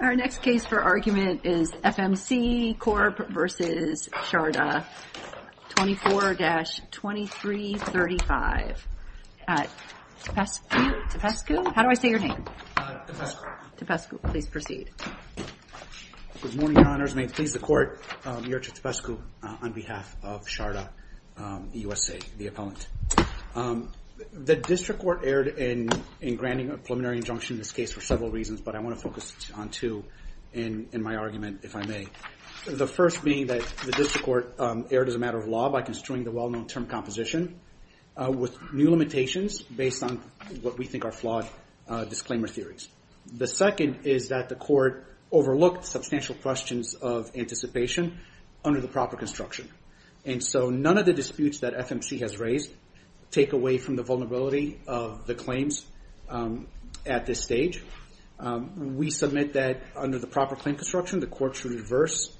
Our next case for argument is FMC Corp. v. Sharda, 24-2335 at Topescu? How do I say your name? Topescu. Topescu. Please proceed. Good morning, Your Honors. May it please the Court, Your Honor, Topescu on behalf of Sharda USA, the appellant. The District Court erred in granting a preliminary injunction in this case for several reasons, but I want to focus on two in my argument, if I may. The first being that the District Court erred as a matter of law by construing the well-known term composition with new limitations based on what we think are flawed disclaimer theories. The second is that the Court overlooked substantial questions of anticipation under the proper construction. And so none of the disputes that FMC has raised take away from the vulnerability of the claims at this stage. We submit that under the proper claim construction, the Court should reverse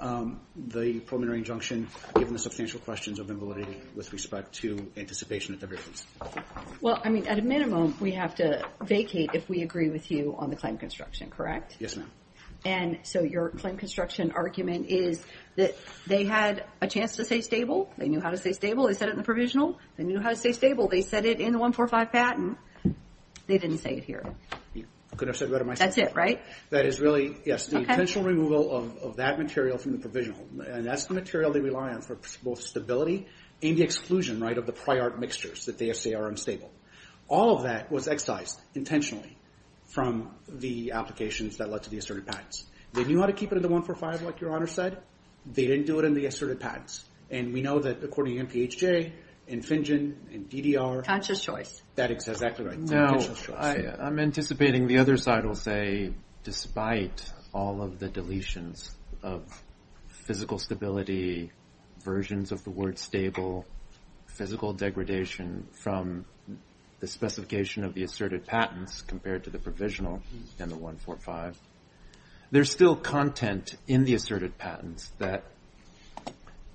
the preliminary injunction given the substantial questions of invalidity with respect to anticipation of divergence. Well, I mean, at a minimum, we have to vacate if we agree with you on the claim construction, correct? Yes, ma'am. And so your claim construction argument is that they had a chance to say stable. They knew how to say stable. They said it in the provisional. They knew how to say stable. They said it in the 145 patent. They didn't say it here. I could have said it better myself. That's it, right? That is really, yes, the intentional removal of that material from the provisional. And that's the material they rely on for both stability and the exclusion, right, of the prior mixtures that they say are unstable. All of that was excised intentionally from the applications that led to the asserted patents. They knew how to keep it in the 145 like your Honor said. They didn't do it in the asserted patents. And we know that according to NPHJ and Finjen and DDR. Conscious choice. That is exactly right. Conscious choice. I'm anticipating the other side will say despite all of the deletions of physical stability, versions of the word stable, physical degradation from the specification of the asserted patents compared to the provisional and the 145, there's still content in the asserted patents that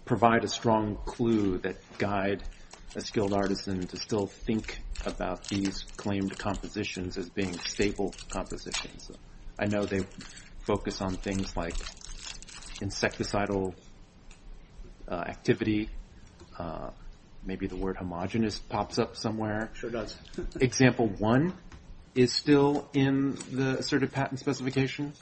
provide a strong clue that guide a skilled artisan to still think about these claimed compositions as being stable compositions. I know they focus on things like insecticidal activity. Maybe the word homogenous pops up somewhere. It sure does. Example one is still in the asserted patent specification,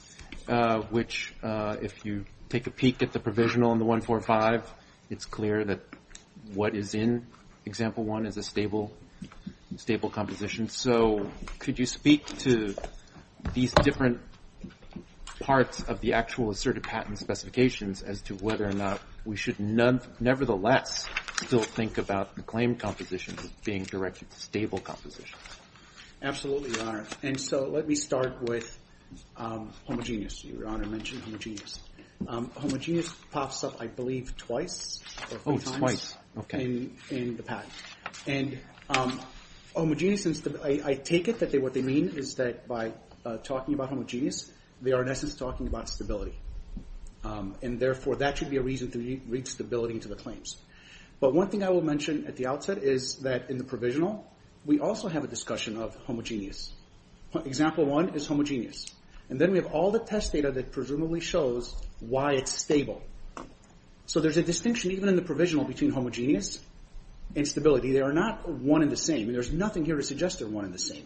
which if you take a peek at the provisional and the 145, it's clear that what is in example one is a stable composition. So could you speak to these different parts of the actual asserted patent specifications as to whether or not we should nevertheless still think about the claim compositions as being directed to stable compositions? Absolutely, Your Honor. And so let me start with homogenous. Your Honor mentioned homogenous. Homogenous pops up, I believe, twice or three times in the patent. And I take it that what they mean is that by talking about homogenous, they are in essence talking about stability. And therefore, that should be a reason to read stability into the claims. But one thing I will mention at the outset is that in the provisional, we also have a discussion of homogenous. Example one is homogenous. And then we have all the test data that presumably shows why it's stable. So there's a distinction even in the provisional between homogenous and stability. They are not one and the same. There's nothing here to suggest they're one and the same.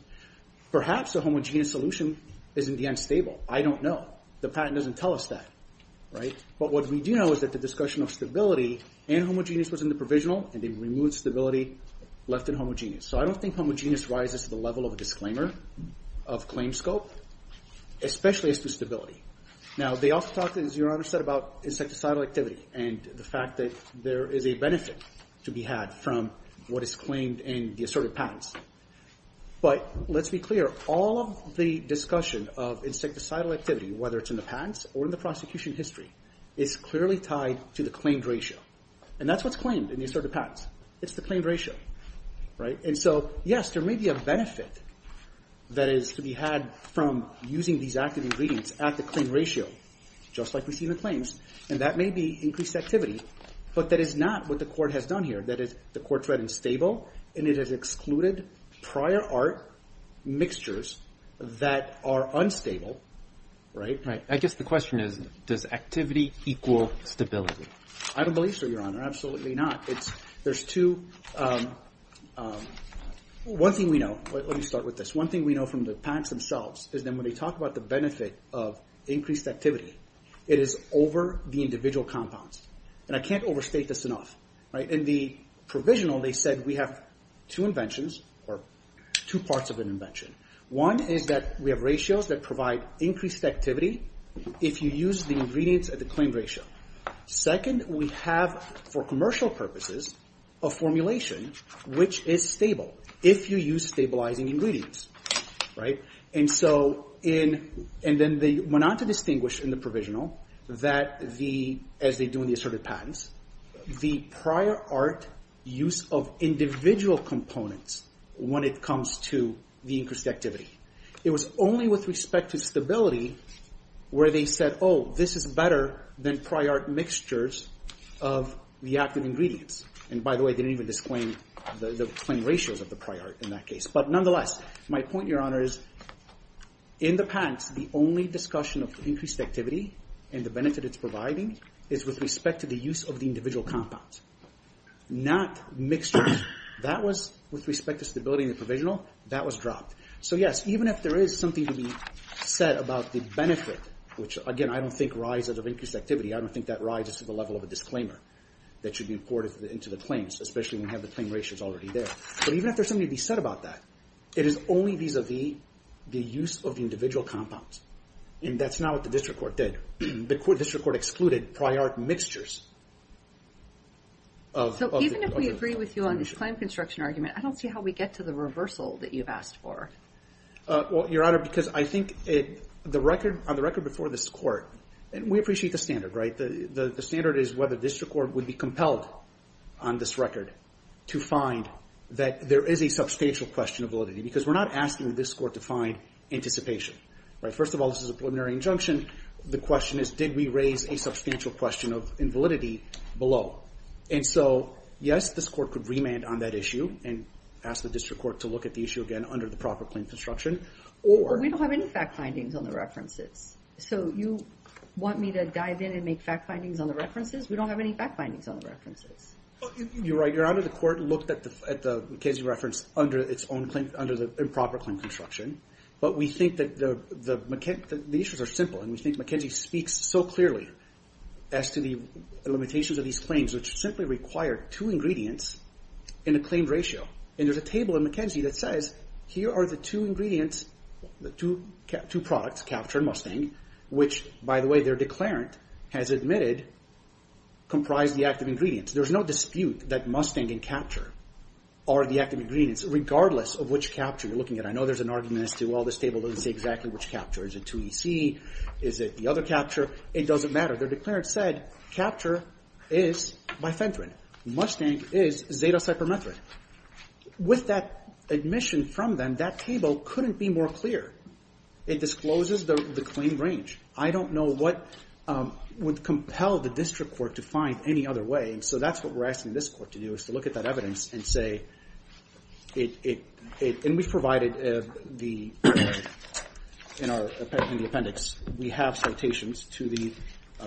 Perhaps a homogenous solution is in the end stable. I don't know. The patent doesn't tell us that. But what we do know is that the discussion of stability and homogenous was in the provisional, and they've removed stability, left it homogenous. So I don't think homogenous rises to the level of a disclaimer of claim scope, especially as to stability. Now, they also talk, as Your Honor said, about insecticidal activity and the fact that there is a benefit to be had from what is claimed in the asserted patents. But let's be clear. All of the discussion of insecticidal activity, whether it's in the patents or in the prosecution history, is clearly tied to the claimed ratio. And that's what's claimed in the asserted patents. It's the claimed ratio. Right? And so, yes, there may be a benefit that is to be had from using these active ingredients at the claimed ratio, just like we see in the claims. And that may be increased activity. But that is not what the Court has done here. That is, the Court said it's stable, and it has excluded prior art mixtures that are unstable. Right? Right. I guess the question is, does activity equal stability? I don't believe so, Your Honor. Absolutely not. There's two – one thing we know. Let me start with this. One thing we know from the patents themselves is that when they talk about the benefit of increased activity, it is over the individual compounds. And I can't overstate this enough. In the provisional, they said we have two inventions, or two parts of an invention. One is that we have ratios that provide increased activity if you use the ingredients at the claimed ratio. Second, we have, for commercial purposes, a formulation which is stable if you use stabilizing ingredients. And so in – and then they went on to distinguish in the provisional that the – as they do in the asserted patents, the prior art use of individual components when it comes to the increased activity. It was only with respect to stability where they said, oh, this is better than prior art mixtures of the active ingredients. And by the way, they didn't even disclaim the claimed ratios of the prior art in that case. But nonetheless, my point, Your Honor, is in the patents, the only discussion of increased activity and the benefit it's providing is with respect to the use of the individual compounds, not mixtures. That was with respect to stability in the provisional. That was dropped. So yes, even if there is something to be said about the benefit, which again, I don't think rises of increased activity. I don't think that rises to the level of a disclaimer that should be imported into the claims, especially when we have the claimed ratios already there. But even if there's something to be said about that, it is only vis-a-vis the use of the individual compounds. And that's not what the district court did. The district court excluded prior art mixtures of the – So even if we agree with you on this claim construction argument, I don't see how we get to the reversal that you've asked for. Well, Your Honor, because I think the record – on the record before this Court, and we appreciate the standard, right? The standard is whether district court would be compelled on this record to find that there is a substantial question of validity. Because we're not asking this Court to find anticipation. First of all, this is a preliminary injunction. The question is, did we raise a substantial question of invalidity below? And so, yes, this Court could remand on that issue and ask the district court to look at the issue again under the proper claim construction, or – But we don't have any fact findings on the references. So you want me to dive in and make fact findings on the references? We don't have any fact findings on the references. You're right. Your Honor, the Court looked at the McKenzie reference under its own claim – under the improper claim construction. But we think that the issues are simple, and we think McKenzie speaks so clearly as to the limitations of these claims, which simply require two ingredients in a claim ratio. And there's a table in McKenzie that says, here are the two ingredients – the two products, Capture and Mustang, which, by the way, their declarant has admitted, comprise the active ingredients. There's no dispute that Mustang and Capture are the active ingredients, regardless of which Capture you're looking at. I know there's an argument as to, well, this table doesn't say exactly which Capture. Is it 2EC? Is it the other Capture? It doesn't matter. Their declarant said Capture is bifenthrin. Mustang is zetacypermethrin. With that admission from them, that table couldn't be more clear. It discloses the claim range. I don't know what would compel the district court to find any other way. And so that's what we're asking this Court to do, is to look at that evidence and say – and we've provided in the appendix, we have citations to the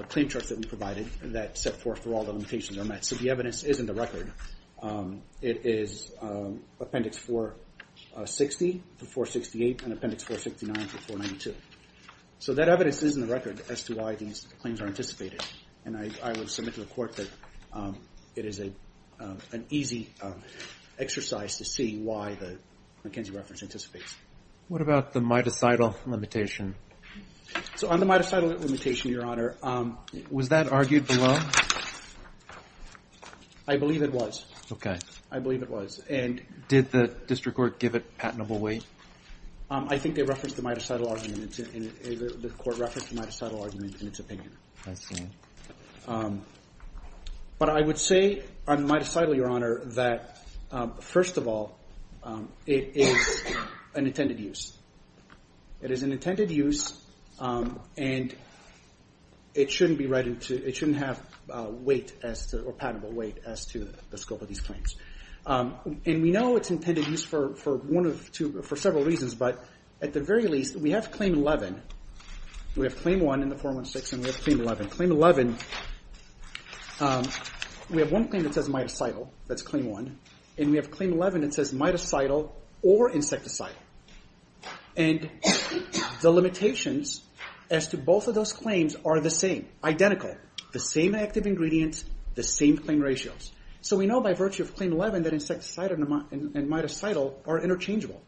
claim charts that we provided that set forth where all the limitations are met. So the evidence is in the record. It is Appendix 460 to 468 and Appendix 469 to 492. So that evidence is in the record as to why these claims are anticipated. And I would submit to the Court that it is an easy exercise to see why the McKenzie reference anticipates. What about the mitocidal limitation? So on the mitocidal limitation, Your Honor – Was that argued below? I believe it was. Okay. I believe it was. And did the district court give it patentable weight? I think they referenced the mitocidal argument. The Court referenced the mitocidal argument in its opinion. I see. But I would say on the mitocidal, Your Honor, that, first of all, it is an intended use. It is an intended use, and it shouldn't be read into – it shouldn't have weight as to – or patentable weight as to the scope of these claims. And we know it's intended use for one of two – for several reasons, but at the very least, we have Claim 11. We have Claim 1 in the 416, and we have Claim 11. Claim 11 – we have one claim that says mitocidal. That's Claim 1. And we have Claim 11 that says mitocidal or insecticidal. And the limitations as to both of those claims are the same – identical. The same active ingredients, the same claim ratios. So we know by virtue of Claim 11 that insecticidal and mitocidal are interchangeable.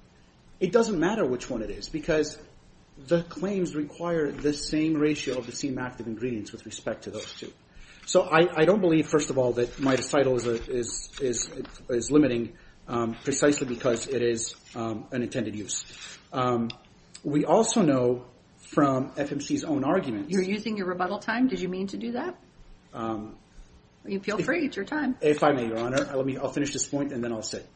It doesn't matter which one it is because the claims require the same ratio of the same active ingredients with respect to those two. So I don't believe, first of all, that mitocidal is limiting precisely because it is an intended use. We also know from FMC's own arguments – You're using your rebuttal time? Did you mean to do that? Feel free. It's your time. If I may, Your Honor. I'll finish this point, and then I'll sit.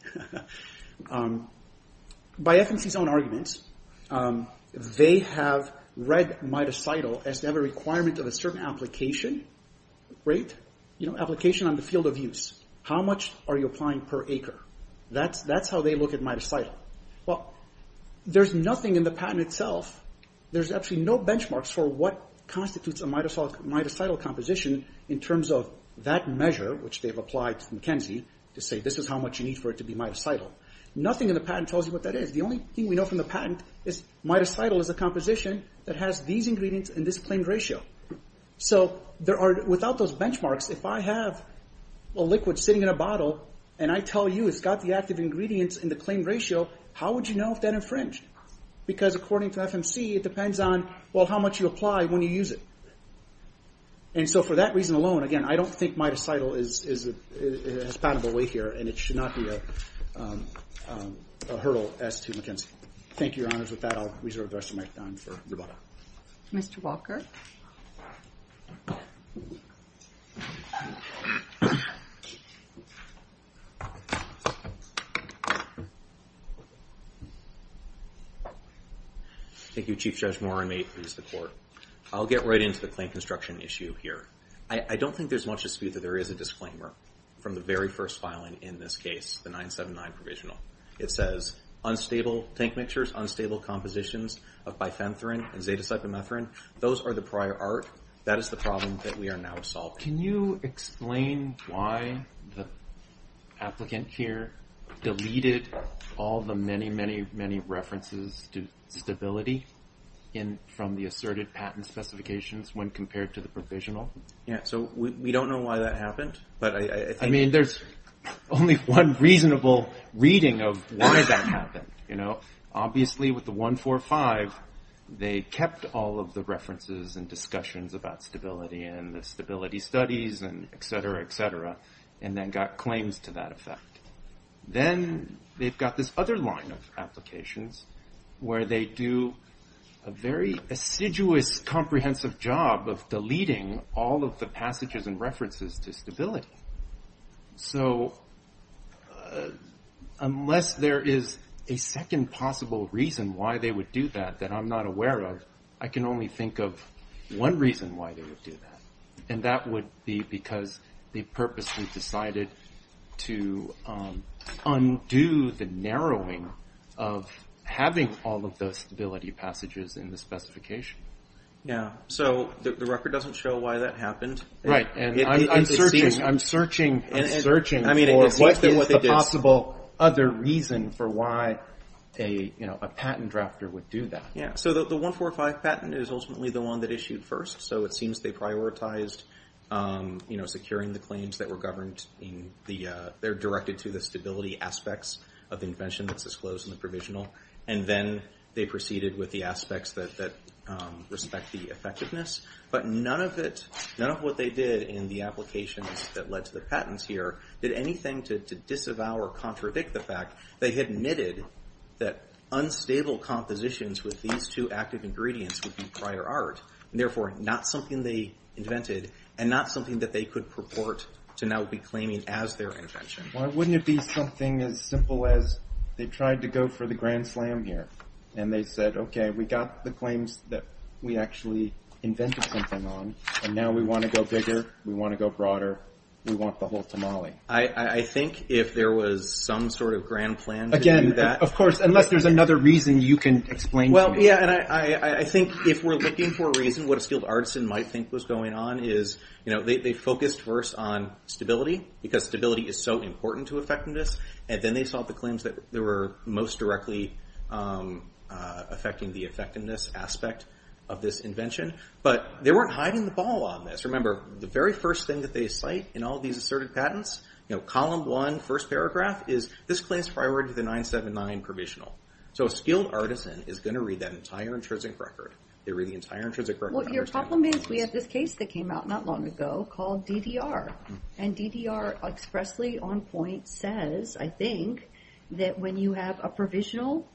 By FMC's own arguments, they have read mitocidal as to have a requirement of a certain application. Right? You know, application on the field of use. How much are you applying per acre? That's how they look at mitocidal. Well, there's nothing in the patent itself – there's actually no benchmarks for what constitutes a mitocidal composition in terms of that measure, which they've applied to McKenzie, to say this is how much you need for it to be mitocidal. Nothing in the patent tells you what that is. The only thing we know from the patent is mitocidal is a composition that has these ingredients and this claimed ratio. So without those benchmarks, if I have a liquid sitting in a bottle and I tell you it's got the active ingredients in the claimed ratio, how would you know if that infringed? Because according to FMC, it depends on how much you apply when you use it. And so for that reason alone, again, I don't think mitocidal has paddled away here and it should not be a hurdle as to McKenzie. Thank you, Your Honors. With that, I'll reserve the rest of my time for rebuttal. Mr. Walker? Thank you, Chief Judge Moore. I may please the Court. I'll get right into the claim construction issue here. I don't think there's much dispute that there is a disclaimer from the very first filing in this case, the 979 provisional. It says, tank mixtures, unstable compositions of bifenthrin and zeta-cypomethrin. Those are the prior art. That is the problem that we are now solving. Can you explain why the applicant here deleted all the many, many, many references to stability from the asserted patent specifications when compared to the provisional? We don't know why that happened. I mean, there's only one reasonable reading of why that happened. Obviously, with the 145, they kept all of the references and discussions about stability and the stability studies and et cetera, et cetera, and then got claims to that effect. Then they've got this other line of applications where they do a very assiduous, comprehensive job of deleting all of the passages and references to stability. So unless there is a second possible reason why they would do that that I'm not aware of, I can only think of one reason why they would do that, and that would be because they purposely decided to undo the narrowing of having all of those stability passages in the specification. Yeah, so the record doesn't show why that happened. Right, and I'm searching for what is the possible other reason for why a patent drafter would do that. Yeah, so the 145 patent is ultimately the one that issued first, so it seems they prioritized securing the claims that were governed in the or directed to the stability aspects of the invention that's disclosed in the provisional, and then they proceeded with the aspects that respect the effectiveness. But none of what they did in the applications that led to the patents here did anything to disavow or contradict the fact they had admitted that unstable compositions with these two active ingredients would be prior art, and therefore not something they invented and not something that they could purport to now be claiming as their invention. Why wouldn't it be something as simple as they tried to go for the grand slam here, and they said, okay, we got the claims that we actually invented something on, and now we want to go bigger, we want to go broader, we want the whole tamale. I think if there was some sort of grand plan to do that. Of course, unless there's another reason you can explain to me. Well, yeah, and I think if we're looking for a reason, what a skilled artisan might think was going on is they focused first on stability, because stability is so important to effectiveness, and then they saw the claims that were most directly affecting the effectiveness aspect of this invention. But they weren't hiding the ball on this. Remember, the very first thing that they cite in all these asserted patents, column one, first paragraph, is this claims priority to the 979 provisional. So a skilled artisan is going to read that entire intrinsic record. They read the entire intrinsic record. Well, your compliment is we have this case that came out not long ago called DDR, and DDR expressly on point says, I think, that when you have a provisional,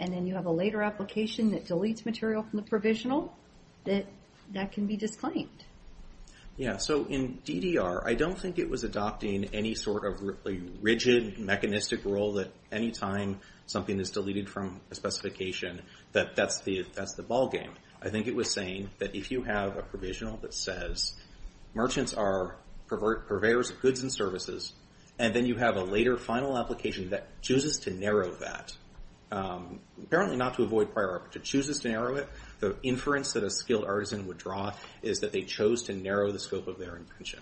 and then you have a later application that deletes material from the provisional, that that can be disclaimed. Yeah, so in DDR, I don't think it was adopting any sort of rigid, mechanistic rule that any time something is deleted from a specification that that's the ballgame. I think it was saying that if you have a provisional that says, merchants are purveyors of goods and services, and then you have a later final application that chooses to narrow that, apparently not to avoid priority, but chooses to narrow it, the inference that a skilled artisan would draw is that they chose to narrow the scope of their invention.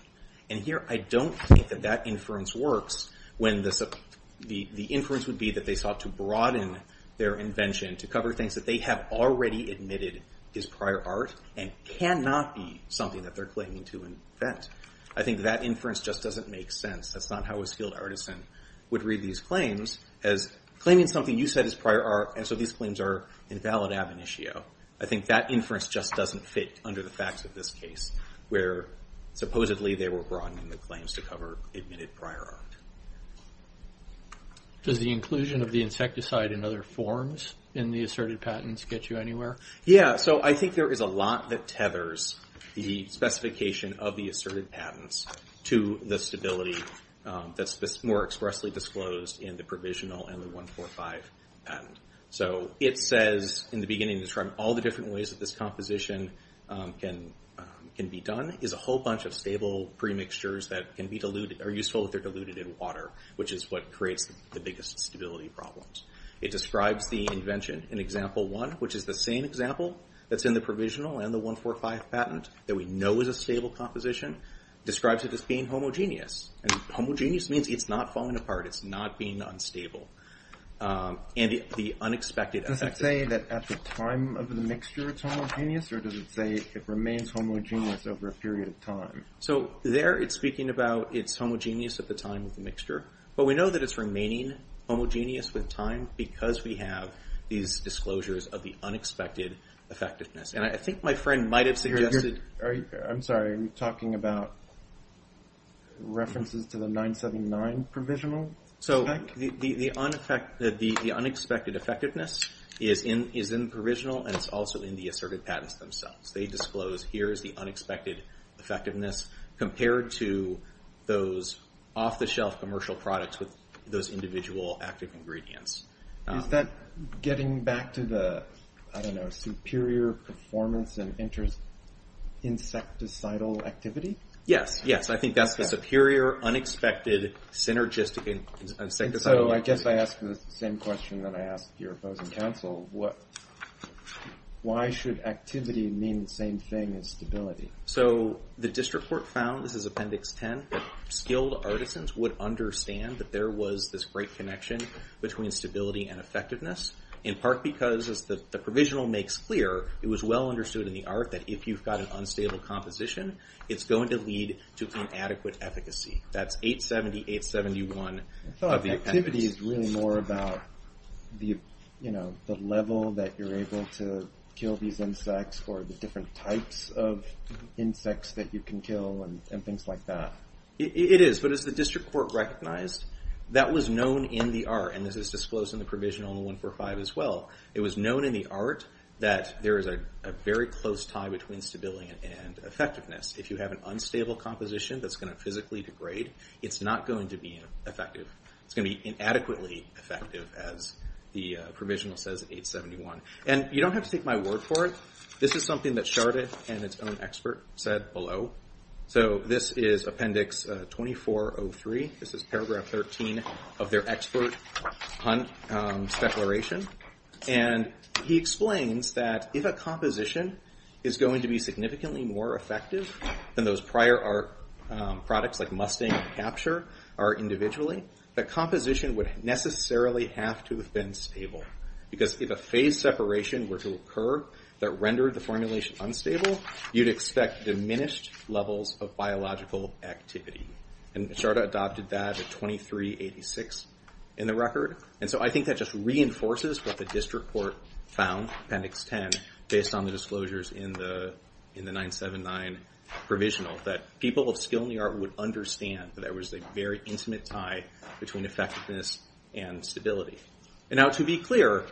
And here, I don't think that that inference works when the inference would be that they sought to broaden their invention to cover things that they have already admitted is prior art and cannot be something that they're claiming to invent. I think that inference just doesn't make sense. That's not how a skilled artisan would read these claims as claiming something you said is prior art, and so these claims are invalid ab initio. I think that inference just doesn't fit under the facts of this case, where supposedly they were broadening the claims to cover admitted prior art. Does the inclusion of the insecticide in other forms in the asserted patents get you anywhere? Yeah, so I think there is a lot that tethers the specification of the asserted patents to the stability that's more expressly disclosed in the provisional and the 145 patent. So it says in the beginning, describe all the different ways that this composition can be done, is a whole bunch of stable premixtures that are useful if they're diluted in water, which is what creates the biggest stability problems. It describes the invention in example one, which is the same example that's in the provisional and the 145 patent that we know is a stable composition. Describes it as being homogeneous, and homogeneous means it's not falling apart, it's not being unstable. And the unexpected effectiveness. Does it say that at the time of the mixture it's homogeneous, or does it say it remains homogeneous over a period of time? So there it's speaking about it's homogeneous at the time of the mixture, but we know that it's remaining homogeneous with time because we have these disclosures of the unexpected effectiveness. And I think my friend might have suggested... I'm sorry, are you talking about references to the 979 provisional? So the unexpected effectiveness is in the provisional, and it's also in the asserted patents themselves. They disclose here is the unexpected effectiveness compared to those off-the-shelf commercial products with those individual active ingredients. Is that getting back to the, I don't know, superior performance and insecticidal activity? Yes, yes. I think that's the superior unexpected synergistic insecticidal activity. So I guess I ask the same question that I ask your opposing counsel. Why should activity mean the same thing as stability? So the district court found, this is appendix 10, that skilled artisans would understand that there was this great connection between stability and effectiveness, in part because, as the provisional makes clear, it was well understood in the art that if you've got an unstable composition, it's going to lead to inadequate efficacy. That's 870, 871. I thought activity is really more about the level that you're able to kill these insects or the different types of insects that you can kill and things like that. It is, but as the district court recognized, that was known in the art, and this is disclosed in the provisional in 145 as well, it was known in the art that there is a very close tie between stability and effectiveness. If you have an unstable composition that's going to physically degrade, it's not going to be effective. It's going to be inadequately effective, as the provisional says, 871. And you don't have to take my word for it. This is something that Charda and its own expert said below. This is Appendix 2403. This is Paragraph 13 of their expert Hunt's declaration. He explains that if a composition is going to be significantly more effective than those prior art products like Mustang and Capture are individually, the composition would necessarily have to have been stable. Because if a phase separation were to occur that rendered the formulation unstable, you'd expect diminished levels of biological activity. And Charda adopted that at 2386 in the record. And so I think that just reinforces what the district court found, Appendix 10, based on the disclosures in the 979 provisional, that people of skill in the art would understand that there was a very intimate tie between effectiveness and stability. And now to be clear,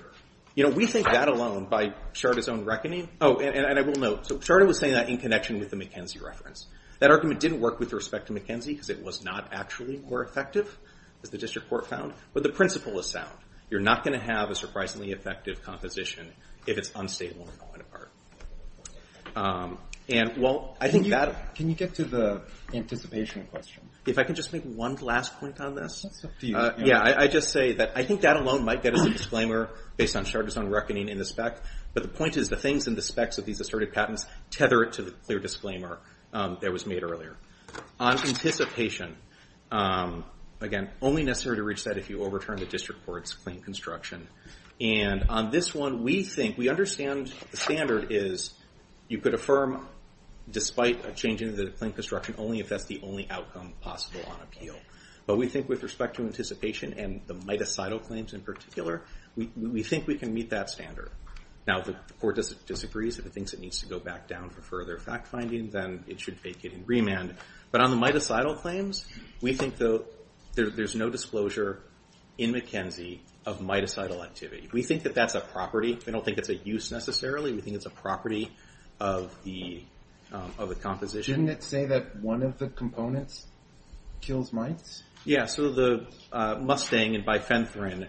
we think that alone, by Charda's own reckoning, oh, and I will note, so Charda was saying that in connection with the McKenzie reference. That argument didn't work with respect to McKenzie because it was not actually more effective, as the district court found. But the principle is sound. You're not going to have a surprisingly effective composition if it's unstable in the line of art. And, well, I think that... Can you get to the anticipation question? If I can just make one last point on this? It's up to you. Yeah, I just say that I think that alone might get us a disclaimer based on Charda's own reckoning in the spec. But the point is, the things in the specs of these asserted patents tether it to the clear disclaimer that was made earlier. On anticipation, again, only necessary to reach that if you overturn the district court's claim construction. And on this one, we think, we understand the standard is you could affirm, despite a change in the claim construction, only if that's the only outcome possible on appeal. But we think with respect to anticipation and the mitocidal claims in particular, we think we can meet that standard. Now, the court disagrees. If it thinks it needs to go back down for further fact-finding, then it should vacate and remand. But on the mitocidal claims, we think, though, there's no disclosure in McKenzie of mitocidal activity. We think that that's a property. We don't think it's a use, necessarily. We think it's a property of the composition. Didn't it say that one of the components kills mites? Yeah, so the mustang and bifenthrin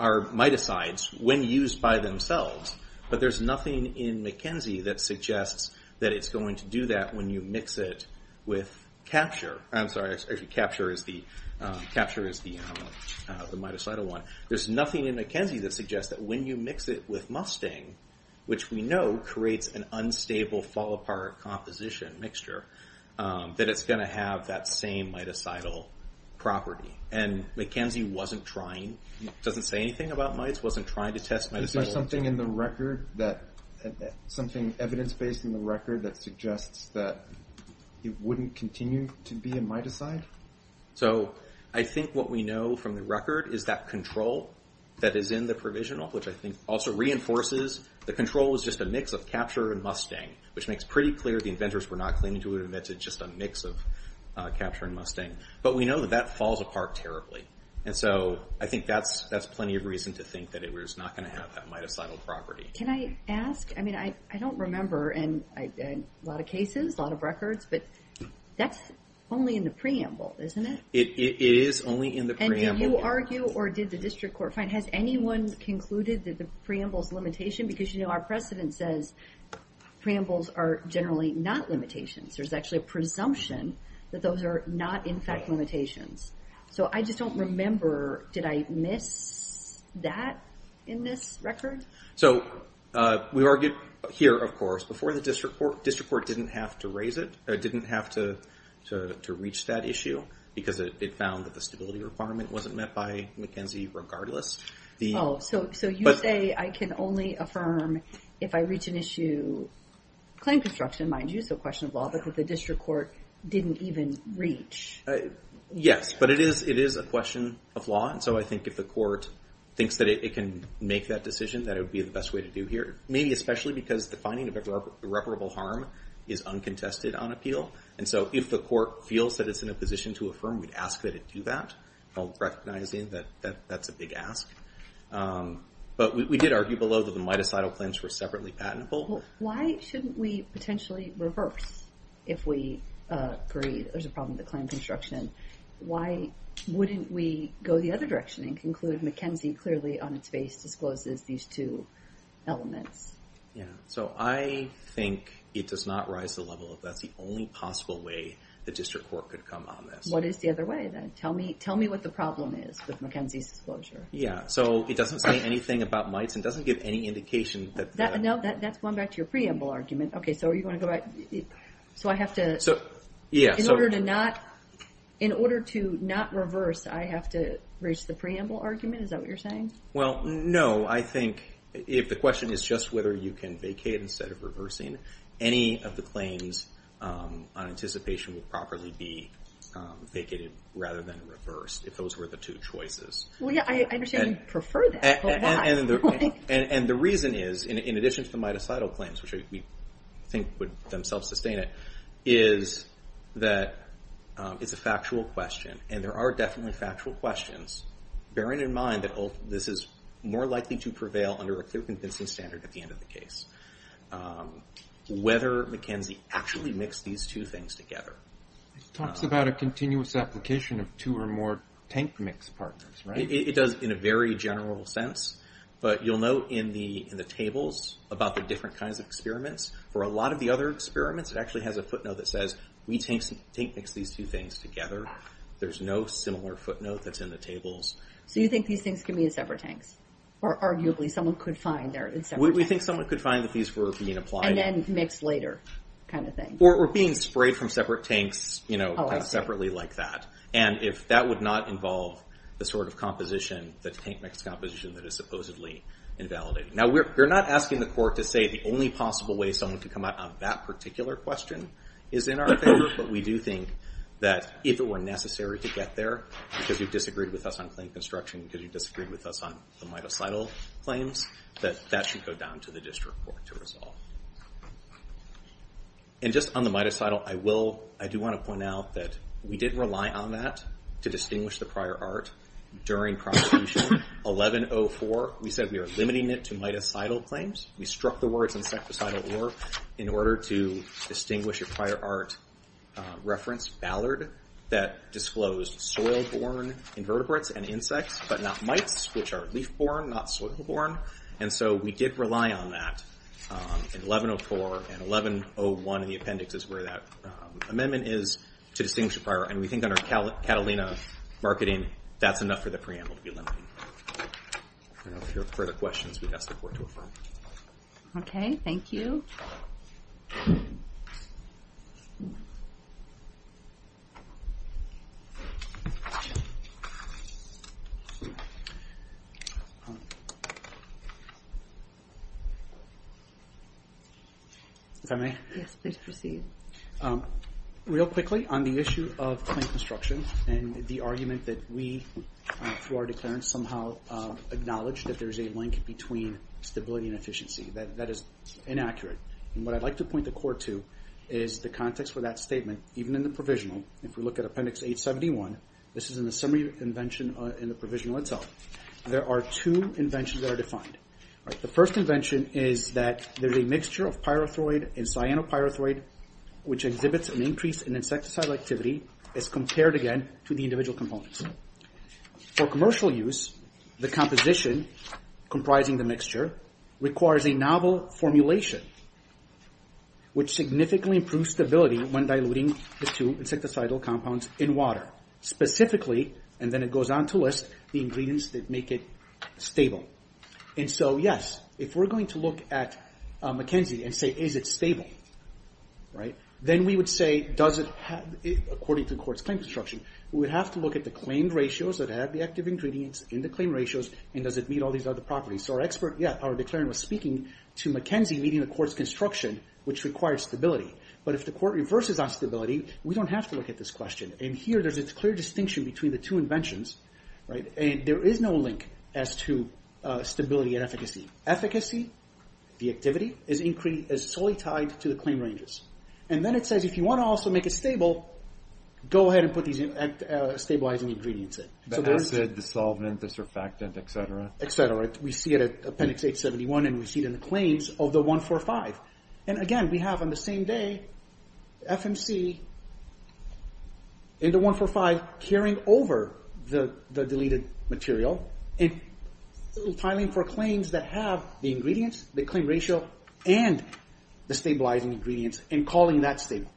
are miticides when used by themselves. But there's nothing in McKenzie that suggests that it's going to do that when you mix it with capture. I'm sorry, capture is the mitocidal one. There's nothing in McKenzie that suggests that when you mix it with mustang, which we know creates an unstable, fall-apart composition mixture, that it's going to have that same mitocidal property. And McKenzie wasn't trying, doesn't say anything about mites, wasn't trying to test mitocidal. Is there something in the record that, something evidence-based in the record that suggests that it wouldn't continue to be a mitocide? So I think what we know from the record is that control that is in the provisional, which I think also reinforces, the control is just a mix of capture and mustang, which makes pretty clear the inventors were not claiming to have invented just a mix of capture and mustang. But we know that that falls apart terribly. And so I think that's plenty of reason to think that it was not going to have that mitocidal property. Can I ask, I mean, I don't remember, and a lot of cases, a lot of records, but that's only in the preamble, isn't it? It is only in the preamble. And did you argue, or did the district court find, has anyone concluded that the preamble's limitation, because you know our precedent says that preambles are generally not limitations. There's actually a presumption that those are not, in fact, limitations. So I just don't remember, did I miss that in this record? So we argued here, of course, before the district court, district court didn't have to raise it, didn't have to reach that issue, because it found that the stability requirement wasn't met by McKenzie regardless. Oh, so you say I can only affirm if I reach an issue, claim construction, mind you, so question of law, because the district court didn't even reach. Yes, but it is a question of law, and so I think if the court thinks that it can make that decision, that it would be the best way to do here. Maybe especially because the finding of irreparable harm is uncontested on appeal, and so if the court feels that it's in a position to affirm, we'd ask that it do that. I'm recognizing that that's a big ask. But we did argue below that the mitocidal claims were separately patentable. Why shouldn't we potentially reverse if we agree there's a problem with the claim construction? Why wouldn't we go the other direction and conclude McKenzie clearly on its face discloses these two elements? Yeah, so I think it does not rise to the level of that's the only possible way the district court could come on this. What is the other way then? Tell me what the problem is with McKenzie's disclosure. Yeah, so it doesn't say anything about mites and doesn't give any indication that... No, that's going back to your preamble argument. Okay, so you want to go back... So I have to... Yeah, so... In order to not reverse, I have to reach the preamble argument? Is that what you're saying? Well, no. I think if the question is just whether you can vacate instead of reversing, any of the claims on anticipation would properly be vacated rather than reversed if those were the two choices. Well, yeah, I understand you prefer that, but why? And the reason is, in addition to the mitocidal claims, which we think would themselves sustain it, is that it's a factual question and there are definitely factual questions bearing in mind that this is more likely to prevail under a clear convincing standard at the end of the case. Whether McKenzie actually mixed these two things together... It talks about a continuous application of two or more tank mix partners, right? It does in a very general sense, but you'll note in the tables about the different kinds of experiments. For a lot of the other experiments, it actually has a footnote that says, we tank mix these two things together. There's no similar footnote that's in the tables. So you think these things can be in separate tanks? Or arguably someone could find they're in separate tanks? We think someone could find that these were being applied... And then mixed later, kind of thing. Or being sprayed from separate tanks, you know, separately like that. And if that would not involve the sort of composition, the tank mix composition that is supposedly invalidated. Now we're not asking the court to say the only possible way someone could come out on that particular question is in our favor, but we do think that if it were necessary to get there, because you disagreed with us on claim construction, because you disagreed with us on the mitocidal claims, that that should go down to the district court to resolve. And just on the mitocidal, I do want to point out that we did rely on that to distinguish the prior art during prosecution. 1104, we said we are limiting it to mitocidal claims. We struck the words insecticidal or in order to distinguish a prior art reference, Ballard, that disclosed soil-borne invertebrates and insects, but not mites, which are leaf-borne, not soil-borne. And so we did rely on that in 1104. And 1101 in the appendix is where that amendment is to distinguish a prior art. And we think under Catalina marketing, that's enough for the preamble to be limited. If there are further questions, we'd ask the court to affirm. OK. Thank you. If I may? Yes, please proceed. Real quickly on the issue of claim construction and the argument that we, through our declarants, somehow acknowledge that there's a link between stability and efficiency. That is inaccurate. And what I'd like to point the court to is the context for that statement, even in the provisional. If we look at appendix 871, this is in the summary invention in the provisional itself. There are two inventions that are defined. The first invention is that there's a mixture of pyrethroid and cyanopyrethroid, which exhibits an increase in insecticidal activity as compared again to the individual components. For commercial use, the composition comprising the mixture requires a novel formulation, which significantly improves stability when diluting the two insecticidal compounds in water. Specifically, and then it goes on to list, the ingredients that make it stable. And so, yes, if we're going to look at McKenzie, and say, is it stable? Then we would say, does it have, according to the court's claim construction, we would have to look at the claimed ratios that have the active ingredients in the claim ratios, and does it meet all these other properties? So our declarant was speaking to McKenzie meeting the court's construction, which requires stability. But if the court reverses on stability, we don't have to look at this question. And here, there's a clear distinction between the two inventions. And there is no link as to stability and efficacy. Efficacy, the activity, is solely tied to the claim ranges. And then it says, if you want to also make it stable, go ahead and put these stabilizing ingredients in. The acid, the solvent, the surfactant, et cetera. Et cetera. We see it at appendix 871, and we see it in the claims of the 145. And again, we have on the same day, FMC in the 145, carrying over the deleted material, and filing for claims that have the ingredients, the claim ratio, and the stabilizing ingredients, and calling that stable.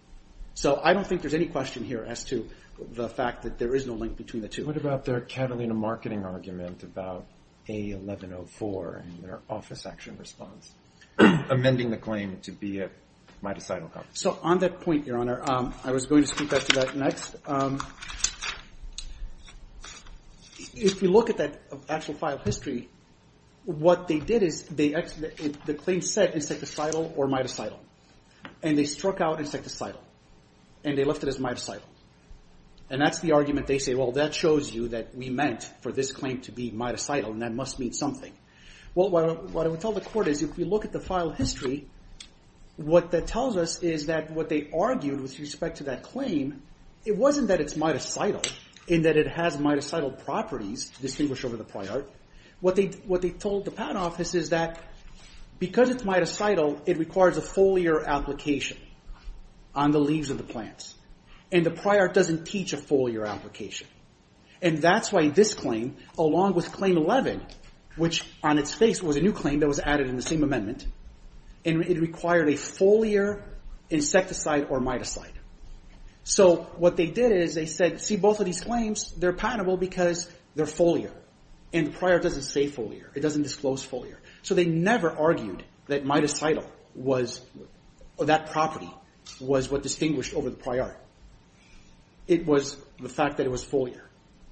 So I don't think there's any question here as to the fact that there is no link between the two. What about their Catalina marketing argument about A1104 in their office action response, amending the claim to be a mitocidal compound? So on that point, Your Honor, I was going to speak back to that next. If you look at that actual file history, what they did is, the claim said insecticidal or mitocidal. And they struck out insecticidal. And they left it as mitocidal. And that's the argument they say, well, that shows you that we meant for this claim to be mitocidal, and that must mean something. Well, what I would tell the court is, if we look at the file history, what that tells us is that what they argued with respect to that claim, it wasn't that it's mitocidal, in that it has mitocidal properties distinguished over the prior. What they told the patent office is that because it's mitocidal, it requires a foliar application on the leaves of the plants. And the prior doesn't teach a foliar application. And that's why this claim, along with Claim 11, which on its face was a new claim that was added in the same amendment, it required a foliar insecticide or mitocide. So what they did is, they said, see, both of these claims, they're patentable because they're foliar. And the prior doesn't say foliar. It doesn't disclose foliar. So they never argued that mitocidal, that property, was what distinguished over the prior. It was the fact that it was foliar.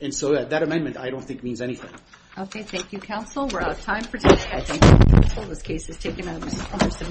And so that amendment, I don't think, means anything. Okay, thank you, counsel. We're out of time for today. I thank you, counsel. This case is taken under submission.